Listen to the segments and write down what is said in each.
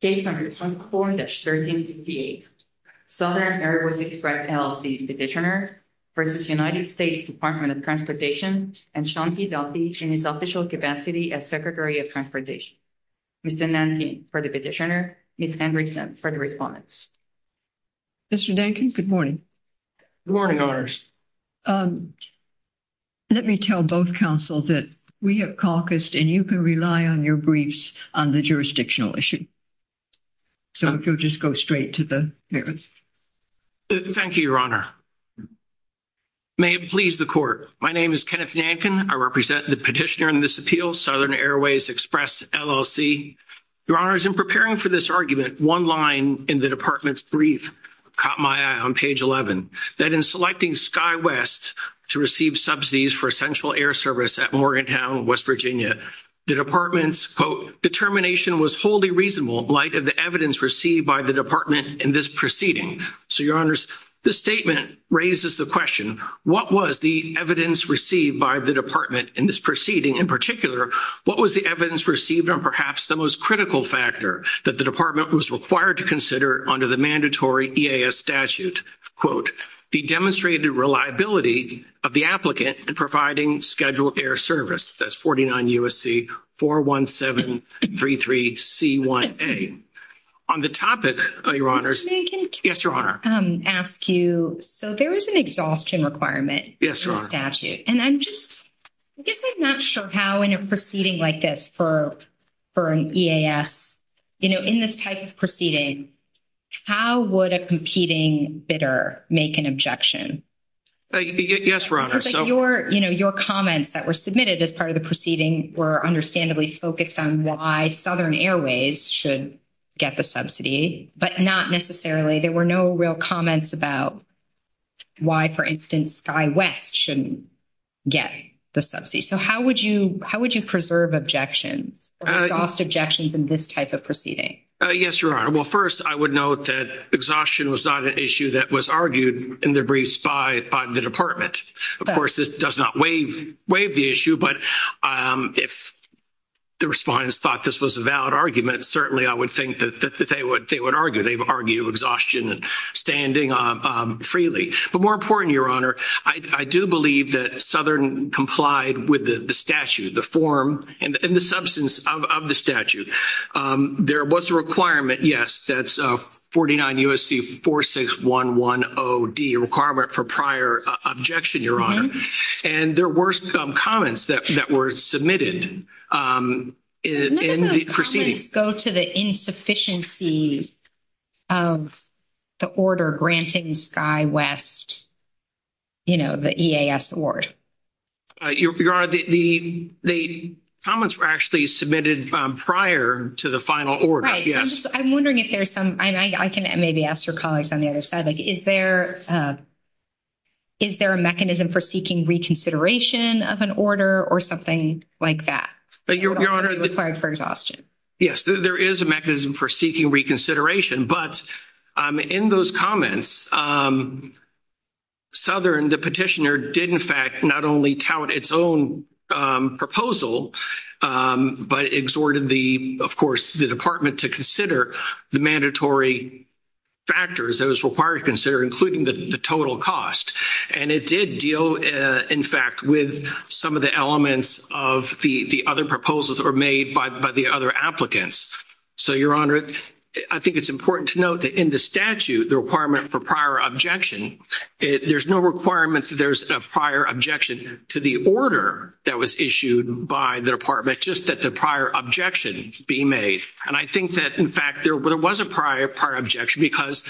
Case No. 4-1358, Southern Airways Express, LLC Petitioner v. United States Department of Transportation and Sean P. Duffy in his official capacity as Secretary of Transportation. Mr. Nankin for the petitioner, Ms. Hendrickson for the respondents. Mr. Nankin, good morning. Good morning, owners. Let me tell both counsel that we have caucused and you can rely on your briefs on the jurisdictional issue. So, if you'll just go straight to the hearing. Thank you, Your Honor. May it please the court. My name is Kenneth Nankin. I represent the petitioner in this appeal, Southern Airways Express, LLC. Your Honors, in preparing for this argument, one line in the department's brief caught my eye on page 11. That in selecting SkyWest to receive subsidies for central air service at Morgantown, West Virginia, the department's, quote, determination was wholly reasonable in light of the evidence received by the department in this proceeding. So, Your Honors, this statement raises the question, what was the evidence received by the department in this proceeding? In particular, what was the evidence received on perhaps the most critical factor that the department was required to consider under the mandatory EAS statute, quote, the demonstrated reliability of the applicant and providing scheduled air service? That's 49 USC, 41733C1A. On the topic, Your Honors. Yes, Your Honor. May I ask you, so there is an exhaustion requirement in the statute. And I'm just, I guess I'm not sure how in a proceeding like this for an EAS, you know, in this type of proceeding, how would a competing bidder make an objection? Yes, Your Honor. Your comments that were submitted as part of the proceeding were understandably focused on why Southern Airways should get the subsidy, but not necessarily. There were no real comments about why, for instance, SkyWest shouldn't get the subsidy. So how would you preserve objections or exhaust objections in this type of proceeding? Yes, Your Honor. Well, first, I would note that exhaustion was not an issue that was argued in the briefs by the department. Of course, this does not waive the issue, but if the respondents thought this was a valid argument, certainly I would think that they would argue. They would argue exhaustion standing freely. But more important, Your Honor, I do believe that Southern complied with the statute, the form and the substance of the statute. There was a requirement, yes, that's 49 U.S.C. 46110D, a requirement for prior objection, Your Honor. And there were some comments that were submitted in the proceeding. None of those comments go to the insufficiency of the order granting SkyWest, you know, the EAS award. Your Honor, the comments were actually submitted prior to the final order, yes. I'm wondering if there's some, I can maybe ask your colleagues on the other side, like, is there a mechanism for seeking reconsideration of an order or something like that? Your Honor. Required for exhaustion. Yes, there is a mechanism for seeking reconsideration. But in those comments, Southern, the petitioner, did, in fact, not only tout its own proposal, but exhorted the, of course, the department to consider the mandatory factors that was required to consider, including the total cost. And it did deal, in fact, with some of the elements of the other proposals that were made by the other applicants. So, Your Honor, I think it's important to note that in the statute, the requirement for prior objection, there's no requirement that there's a prior objection to the order that was issued by the department, just that the prior objection be made. And I think that, in fact, there was a prior objection because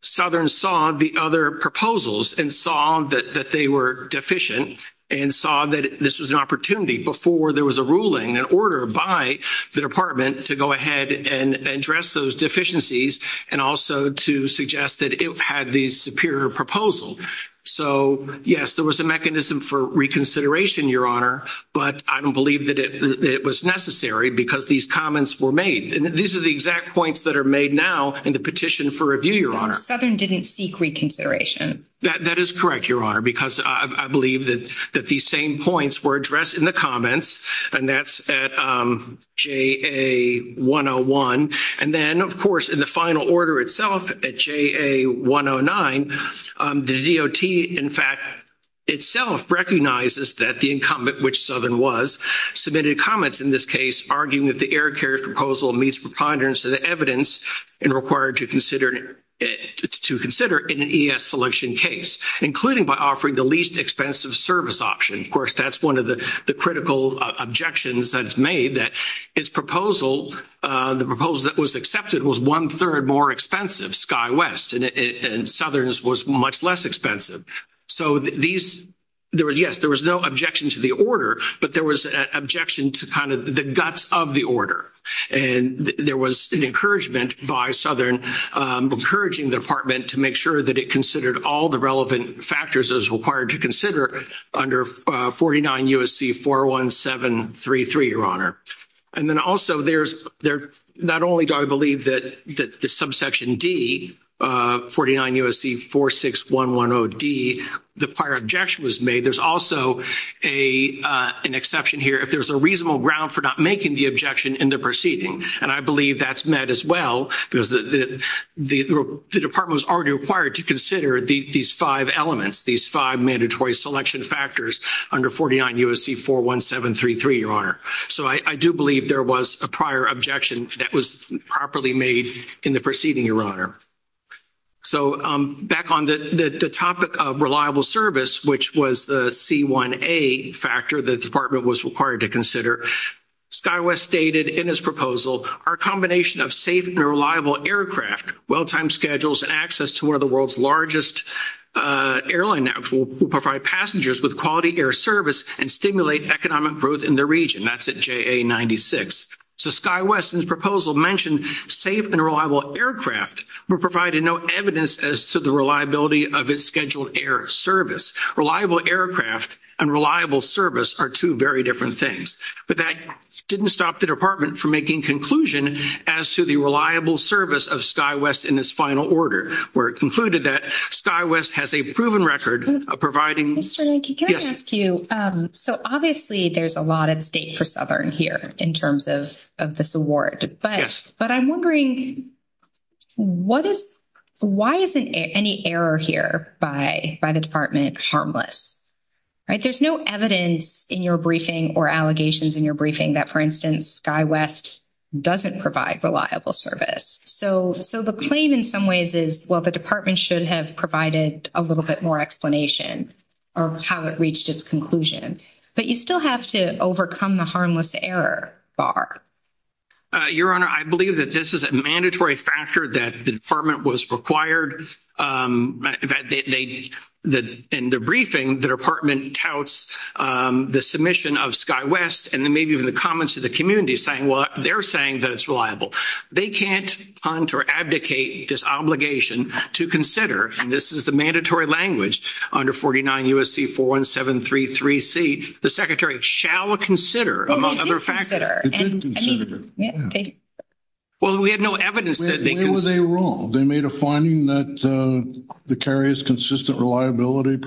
Southern saw the other proposals and saw that they were deficient and saw that this was an opportunity before there was a ruling, an order by the department to go ahead and address those deficiencies and also to suggest that it had the superior proposal. So, yes, there was a mechanism for reconsideration, Your Honor, but I don't believe that it was necessary because these comments were made. These are the exact points that are made now in the petition for review, Your Honor. Southern didn't seek reconsideration. That is correct, Your Honor, because I believe that these same points were addressed in the comments, and that's at JA 101. And then, of course, in the final order itself at JA 109, the DOT, in fact, itself recognizes that the incumbent, which Southern was, submitted comments in this case arguing that the air carrier proposal meets preponderance of the evidence and required to consider in an ES selection case, including by offering the least expensive service option. Of course, that's one of the critical objections that's made that its proposal, the proposal that was accepted, was one-third more expensive, SkyWest, and Southern's was much less expensive. So, yes, there was no objection to the order, but there was an objection to kind of the guts of the order. And there was an encouragement by Southern, encouraging the department to make sure that it considered all the relevant factors as required to consider under 49 U.S.C. 41733, Your Honor. And then also, there's not only, I believe, that the subsection D, 49 U.S.C. 46110D, the prior objection was made, there's also an exception here if there's a reasonable ground for not making the objection in the proceeding. And I believe that's met as well because the department was already required to consider these five elements, these five mandatory selection factors under 49 U.S.C. 41733, Your Honor. So, I do believe there was a prior objection that was properly made in the proceeding, Your Honor. So, back on the topic of reliable service, which was the C1A factor the department was required to consider, SkyWest stated in its proposal, our combination of safe and reliable aircraft, well-timed schedules, and access to one of the world's largest airline networks will provide passengers with quality air service and stimulate economic growth in the region. That's at JA 96. So, SkyWest's proposal mentioned safe and reliable aircraft were provided no evidence as to the reliability of its scheduled air service. Reliable aircraft and reliable service are two very different things. But that didn't stop the department from making conclusion as to the reliable service of SkyWest in its final order, where it concluded that SkyWest has a proven record of providing... Mr. Rankin, can I ask you? So, obviously, there's a lot at stake for Southern here in terms of this award. But I'm wondering, why isn't any error here by the department harmless? There's no evidence in your briefing or allegations in your briefing that, for instance, SkyWest doesn't provide reliable service. So, the claim in some ways is, well, the department should have provided a little bit more explanation of how it reached its conclusion. But you still have to overcome the harmless error bar. Your Honor, I believe that this is a mandatory factor that the department was required. In fact, in the briefing, the department touts the submission of SkyWest and maybe even the comments of the community saying, well, they're saying that it's reliable. They can't hunt or abdicate this obligation to consider, and this is the mandatory language under 49 U.S.C. 41733C, the secretary shall consider, among other factors. They did consider. Well, we had no evidence that they considered. What were they wrong? They made a finding that the carrier's consistent reliability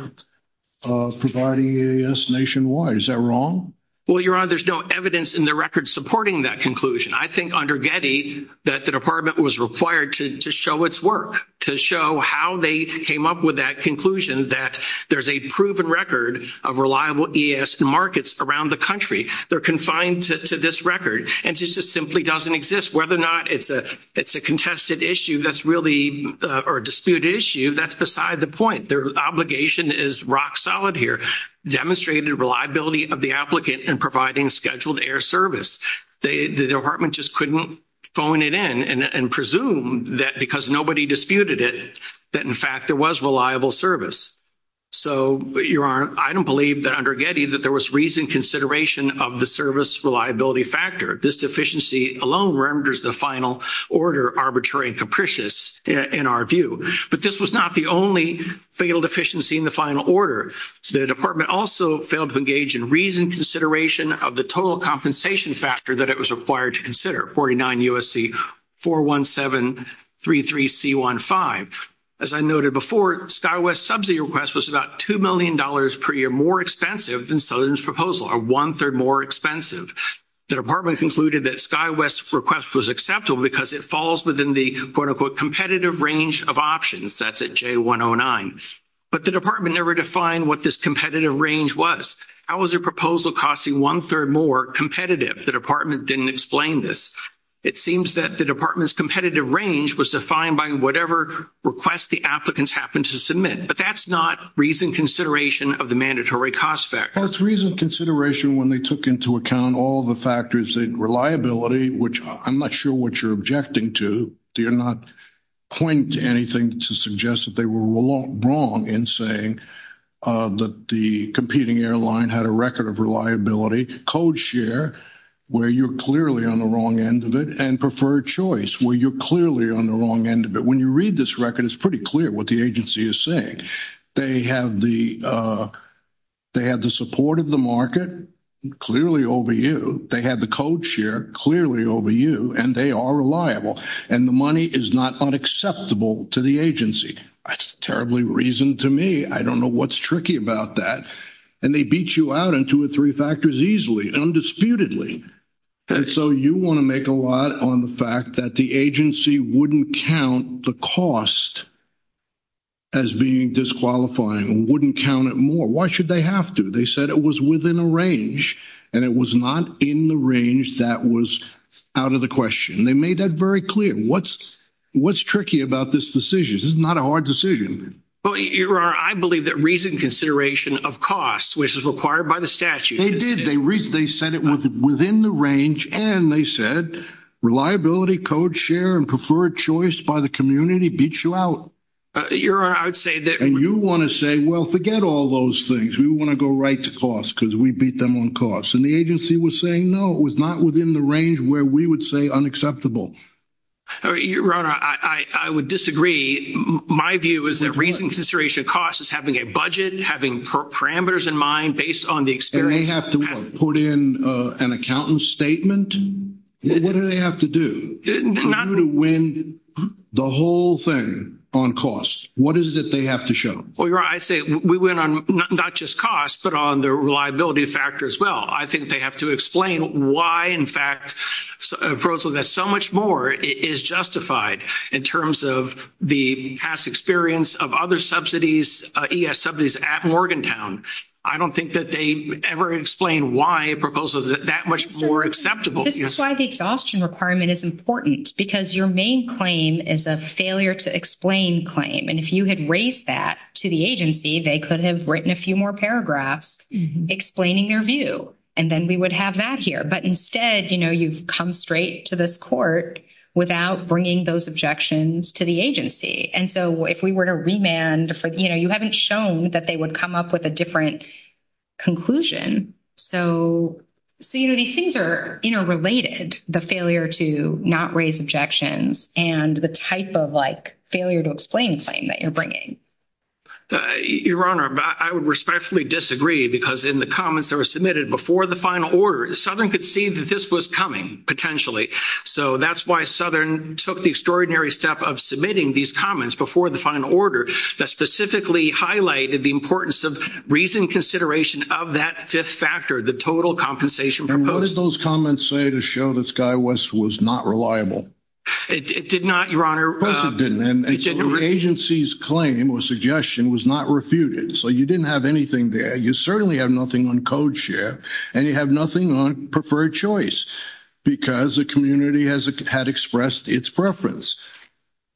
providing EAS nationwide. Is that wrong? Well, Your Honor, there's no evidence in the record supporting that conclusion. I think under Getty that the department was required to show its work, to show how they came up with that conclusion, that there's a proven record of reliable EAS in markets around the country. They're confined to this record. And this just simply doesn't exist. Whether or not it's a contested issue that's really or a disputed issue, that's beside the point. Their obligation is rock solid here. Demonstrated reliability of the applicant in providing scheduled air service. The department just couldn't phone it in and presume that because nobody disputed it that, in fact, there was reliable service. So, Your Honor, I don't believe that under Getty that there was reasoned consideration of the service reliability factor. This deficiency alone renders the final order arbitrary and capricious in our view. But this was not the only fatal deficiency in the final order. The department also failed to engage in reasoned consideration of the total compensation factor that it was required to consider, 49 USC 41733C15. As I noted before, SkyWest's subsidy request was about $2 million per year more expensive than Southern's proposal, or one-third more expensive. The department concluded that SkyWest's request was acceptable because it falls within the, quote, unquote, competitive range of options. That's at J109. But the department never defined what this competitive range was. How is a proposal costing one-third more competitive? The department didn't explain this. It seems that the department's competitive range was defined by whatever request the applicants happened to submit. But that's not reasoned consideration of the mandatory cost factor. Well, it's reasoned consideration when they took into account all the factors that reliability, which I'm not sure what you're objecting to. You're not pointing to anything to suggest that they were wrong in saying that the competing airline had a record of reliability. Code share, where you're clearly on the wrong end of it, and preferred choice, where you're clearly on the wrong end of it. When you read this record, it's pretty clear what the agency is saying. They have the support of the market clearly over you. They have the code share clearly over you, and they are reliable. And the money is not unacceptable to the agency. That's terribly reasoned to me. I don't know what's tricky about that. And they beat you out on two or three factors easily, undisputedly. And so you want to make a lot on the fact that the agency wouldn't count the cost as being disqualifying, wouldn't count it more. Why should they have to? They said it was within a range, and it was not in the range that was out of the question. They made that very clear. What's tricky about this decision? This is not a hard decision. Well, Your Honor, I believe that reasoned consideration of cost, which is required by the statute. They said it was within the range, and they said reliability, code share, and preferred choice by the community beats you out. Your Honor, I would say that – And you want to say, well, forget all those things. We want to go right to cost, because we beat them on cost. And the agency was saying, no, it was not within the range where we would say unacceptable. Your Honor, I would disagree. My view is that reasoned consideration of cost is having a budget, having parameters in mind based on the experience. And they have to put in an accountant's statement? What do they have to do for you to win the whole thing on cost? What is it that they have to show? Well, Your Honor, I say we win on not just cost, but on the reliability factor as well. I think they have to explain why, in fact, a proposal that's so much more is justified in terms of the past experience of other ES subsidies at Morgantown. I don't think that they ever explain why a proposal is that much more acceptable. This is why the exhaustion requirement is important, because your main claim is a failure to explain claim. And if you had raised that to the agency, they could have written a few more paragraphs explaining their view, and then we would have that here. But instead, you've come straight to this court without bringing those objections to the agency. And so if we were to remand, you haven't shown that they would come up with a different conclusion. So these things are interrelated, the failure to not raise objections and the type of failure to explain claim that you're bringing. Your Honor, I would respectfully disagree, because in the comments that were submitted before the final order, Southern could see that this was coming, potentially. So that's why Southern took the extraordinary step of submitting these comments before the final order that specifically highlighted the importance of reasoned consideration of that fifth factor, the total compensation proposed. And what did those comments say to show that SkyWest was not reliable? It did not, Your Honor. Of course it didn't. And the agency's claim or suggestion was not refuted. So you didn't have anything there. You certainly have nothing on code share and you have nothing on preferred choice because the community had expressed its preference.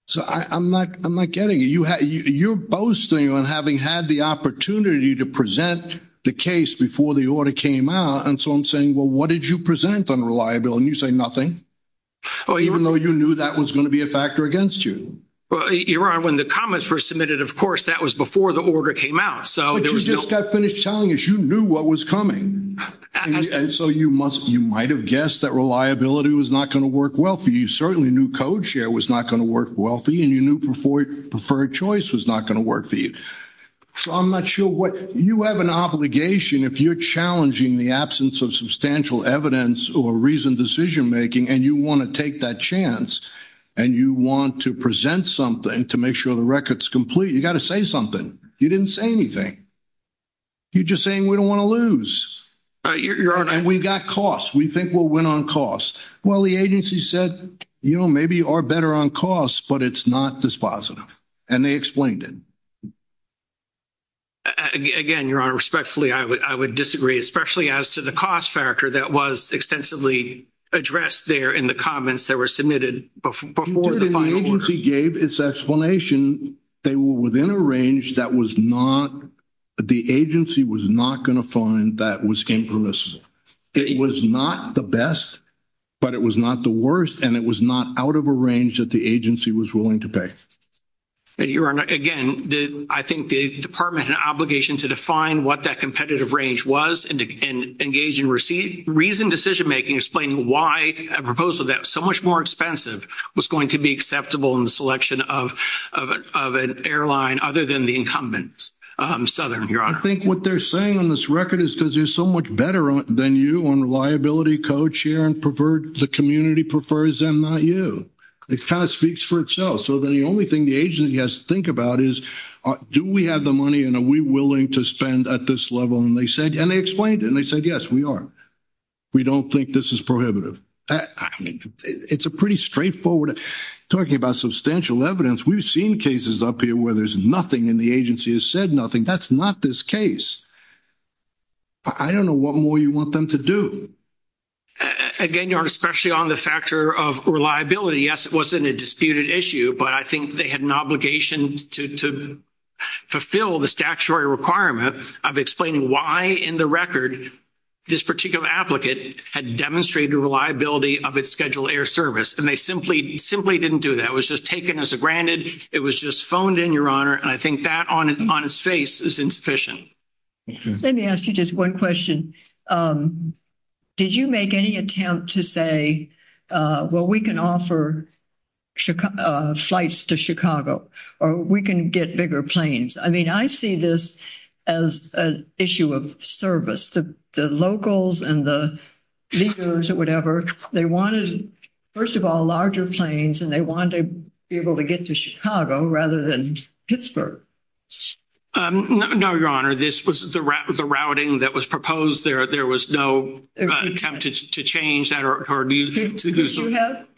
So I'm not getting it. You're boasting on having had the opportunity to present the case before the order came out. And so I'm saying, well, what did you present on reliability? And you say nothing, even though you knew that was going to be a factor against you. Your Honor, when the comments were submitted, of course, that was before the order came out. But you just got finished telling us you knew what was coming. And so you might have guessed that reliability was not going to work well for you. You certainly knew code share was not going to work well for you and you knew preferred choice was not going to work for you. So I'm not sure what... You have an obligation if you're challenging the absence of substantial evidence or reasoned decision-making and you want to take that chance and you want to present something to make sure the record's complete, you got to say something. You didn't say anything. You're just saying we don't want to lose. And we've got costs. We think we'll win on costs. Well, the agency said, you know, maybe you are better on costs, but it's not dispositive. And they explained it. Again, Your Honor, respectfully, I would disagree, especially as to the cost factor that was extensively addressed there in the comments that were submitted before the final order. The agency gave its explanation. They were within a range that was not... The agency was not going to find that was impermissible. It was not the best, but it was not the worst, and it was not out of a range that the agency was willing to pay. Your Honor, again, I think the department had an obligation to define what that competitive range was and engage in reasoned decision-making explaining why a proposal that was so much more expensive was going to be acceptable in the selection of an airline other than the incumbent, Southern, Your Honor. I think what they're saying on this record is because you're so much better than you on reliability, co-chair, and the community prefers them, not you. It kind of speaks for itself. So then the only thing the agency has to think about is, do we have the money and are we willing to spend at this level? And they explained it, and they said, yes, we are. We don't think this is prohibitive. I mean, it's a pretty straightforward... Talking about substantial evidence, we've seen cases up here where there's nothing and the agency has said nothing. That's not this case. I don't know what more you want them to do. Again, Your Honor, especially on the factor of reliability, yes, it wasn't a disputed issue, but I think they had an obligation to fulfill the statutory requirement of explaining why in the record this particular applicant had demonstrated the reliability of its scheduled air service, and they simply didn't do that. It was just taken as a granted. It was just phoned in, Your Honor, and I think that on its face is insufficient. Let me ask you just one question. Did you make any attempt to say, well, we can offer flights to Chicago or we can get bigger planes? I mean, I see this as an issue of service. The locals and the leaguers or whatever, they wanted, first of all, larger planes and they wanted to be able to get to Chicago rather than Pittsburgh. No, Your Honor. This was the routing that was proposed. There was no attempt to change that.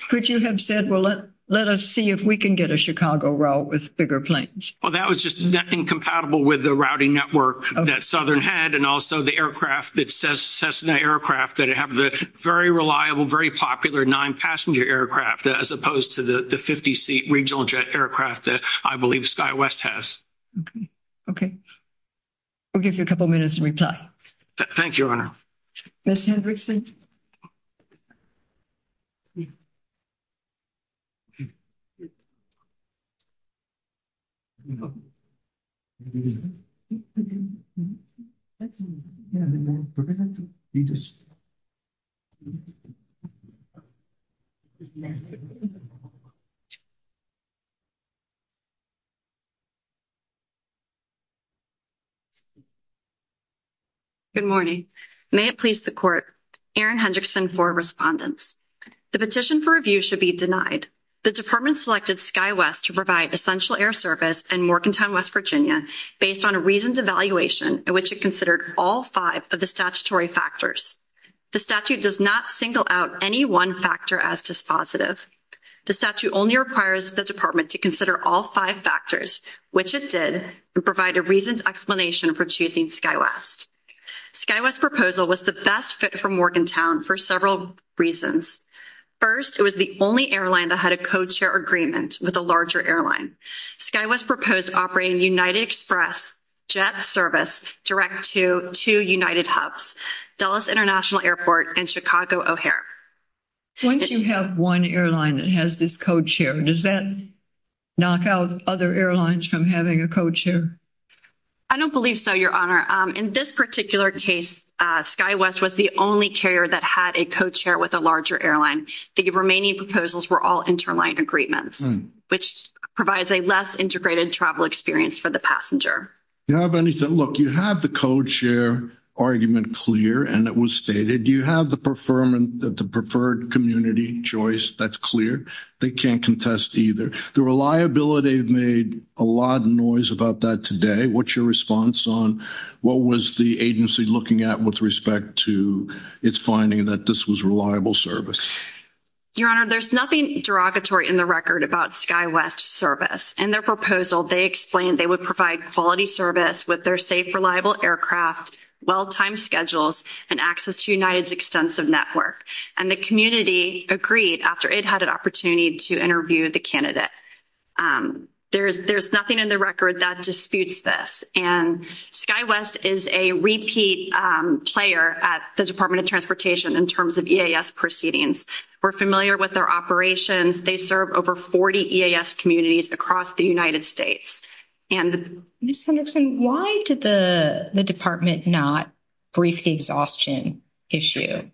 Could you have said, well, let us see if we can get a Chicago route with bigger planes? Well, that was just incompatible with the routing network that Southern had and also the aircraft, the Cessna aircraft that have the very reliable, very popular nine-passenger aircraft as opposed to the 50-seat regional jet aircraft that I believe SkyWest has. Okay. We'll give you a couple minutes to reply. Thank you, Your Honor. Mr. Hendrickson? Yes. Good morning. May it please the Court. Erin Hendrickson for Respondents. The petition for review should be denied. The department selected SkyWest to provide essential air service in Morkentown, West Virginia, based on a reasoned evaluation in which it considered all five of the statutory factors. The statute does not single out any one factor as dispositive. The statute only requires the department to consider all five factors, which it did, and provide a reasoned explanation for choosing SkyWest. SkyWest's proposal was the best fit for Morkentown for several reasons. First, it was the only airline that had a co-chair agreement with a larger airline. SkyWest proposed operating United Express jet service direct to two United hubs, Dulles International Airport and Chicago O'Hare. Once you have one airline that has this co-chair, does that knock out other airlines from having a co-chair? I don't believe so, Your Honor. In this particular case, SkyWest was the only carrier that had a co-chair with a larger airline. The remaining proposals were all interline agreements, which provides a less integrated travel experience for the passenger. Look, you have the co-chair argument clear, and it was stated. You have the preferred community choice. That's clear. They can't contest either. The reliability made a lot of noise about that today. What's your response on what was the agency looking at with respect to its finding that this was reliable service? Your Honor, there's nothing derogatory in the record about SkyWest service. In their proposal, they explained they would provide quality service with their safe, reliable aircraft, well-timed schedules, and access to United's extensive network. The community agreed after it had an opportunity to interview the candidate. There's nothing in the record that disputes this. SkyWest is a repeat player at the Department of Transportation in terms of EAS proceedings. We're familiar with their operations. They serve over 40 EAS communities across the United States. Ms. Henderson, why did the Department not brief the exhaustion issue?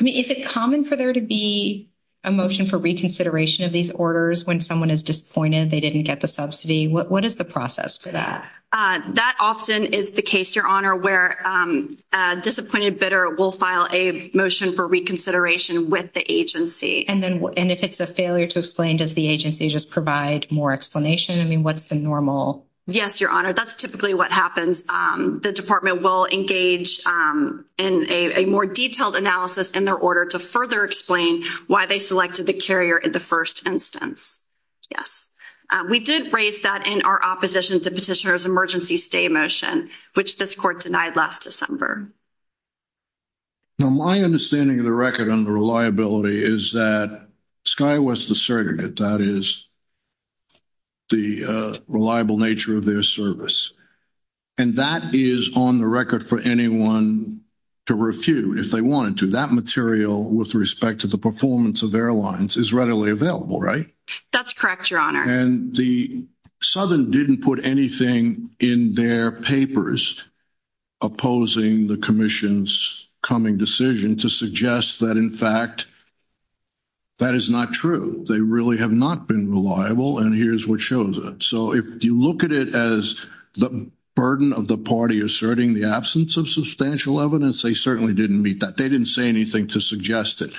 Is it common for there to be a motion for reconsideration of these orders when someone is disappointed they didn't get the subsidy? What is the process for that? That often is the case, Your Honor, where a disappointed bidder will file a motion for reconsideration with the agency. If it's a failure to explain, does the agency just provide more explanation? What's the normal? Yes, Your Honor. That's typically what happens. The Department will engage in a more detailed analysis in their order to further explain why they selected the carrier in the first instance. We did raise that in our opposition to Petitioner's Emergency Stay motion, which this court denied last December. My understanding of the record on the reliability is that SkyWest is the surrogate. That is the reliable nature of their service. That is on the record for anyone to refute, if they wanted to. That material, with respect to the performance of airlines, is readily available, right? That's correct, Your Honor. Southern didn't put anything in their papers opposing the Commission's coming decision to suggest that, in fact, that is not true. They really have not been reliable, and here's what shows it. If you look at it as the burden of the party asserting the absence of substantial evidence, they certainly didn't meet that. They didn't say anything to suggest it.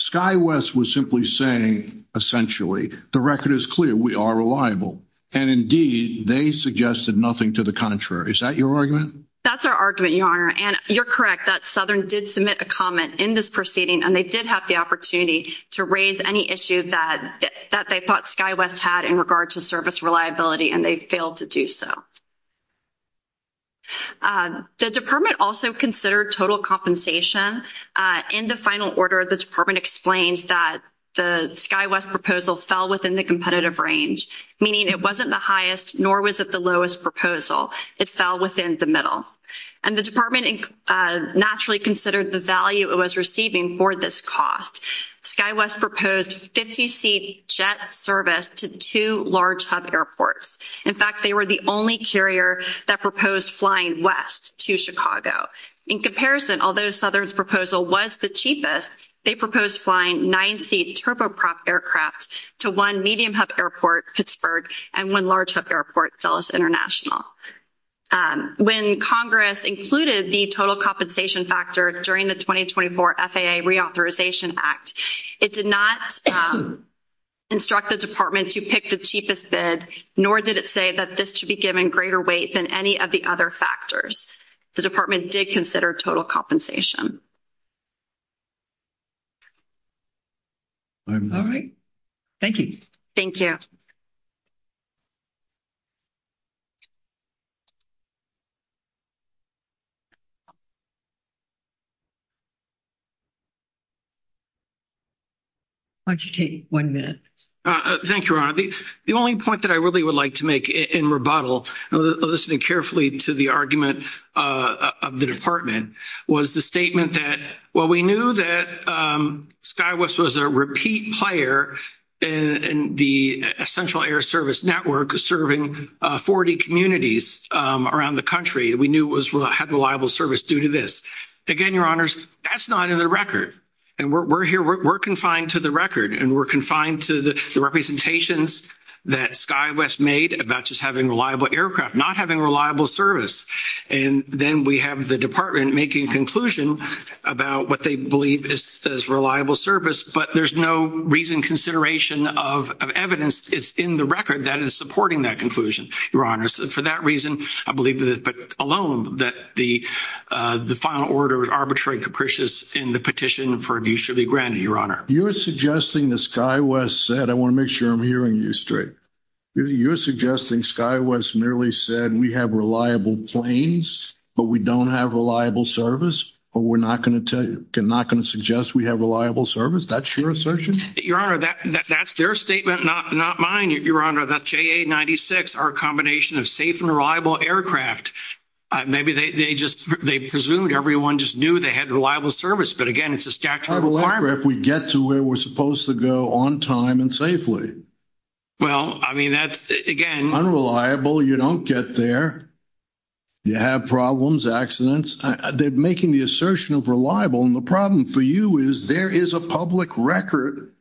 SkyWest was simply saying, essentially, the record is clear. We are reliable. Indeed, they suggested nothing to the contrary. Is that your argument? That's our argument, Your Honor. You're correct that Southern did submit a comment in this proceeding, and they did have the opportunity to raise any issue that they thought SkyWest had in regard to service reliability, and they failed to do so. The Department also considered total compensation. In the final order, the Department explains that the SkyWest proposal fell within the competitive range, meaning it wasn't the highest, nor was it the lowest proposal. It fell within the middle, and the Department naturally considered the value it was receiving for this cost. SkyWest proposed 50-seat jet service to two large hub airports. In fact, they were the only carrier that proposed flying west to Chicago. In comparison, although Southern's proposal was the cheapest, they proposed flying nine-seat turboprop aircraft to one medium hub airport, Pittsburgh, and one large hub airport, Dulles International. When Congress included the total compensation factor during the 2024 FAA Reauthorization Act, it did not instruct the Department to pick the cheapest bid, nor did it say that this should be given greater weight than any of the other factors. The Department did consider total compensation. All right. Thank you. Thank you. Why don't you take one minute? Thank you, Your Honor. The only point that I really would like to make in rebuttal, listening carefully to the argument of the Department, was the statement that, well, we knew that SkyWest was a repeat player in the Central Air Service Network, serving 40 communities around the country. We knew it had reliable service due to this. Again, Your Honors, that's not in the record. We're confined to the record, and we're confined to the representations that SkyWest made about just having reliable aircraft, not having reliable service. Then we have the Department making a conclusion about what they believe is reliable service, but there's no reason, consideration of evidence. It's in the record that is supporting that conclusion, Your Honors. For that reason, I believe alone that the final order is arbitrary, capricious, and the petition for review should be granted, Your Honor. You're suggesting that SkyWest said, I want to make sure I'm hearing you straight. You're suggesting SkyWest merely said, we have reliable planes, but we don't have reliable service, or we're not going to suggest we have reliable service? That's your assertion? Your Honor, that's their statement, not mine, Your Honor. That JA-96, our combination of safe and reliable aircraft, maybe they presumed everyone just knew they had reliable service, but again, it's a statutory requirement. How reliable are we if we get to where we're supposed to go on time and safely? Well, I mean, that's, again... Unreliable, you don't get there. You have problems, accidents. They're making the assertion of reliable, and the problem for you is there is a public record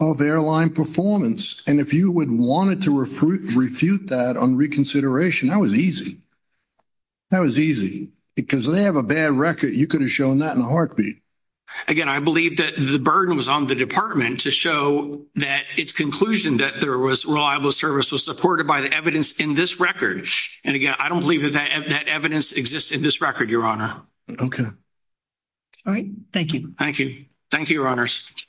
of airline performance, and if you would want to refute that on reconsideration, that was easy. That was easy. Because they have a bad record, you could have shown that in a heartbeat. Again, I believe that the burden was on the department to show that its conclusion that there was reliable service was supported by the evidence in this record, and again, I don't believe that evidence exists in this record, Your Honor. Okay. All right. Thank you. Thank you. Thank you, Your Honors.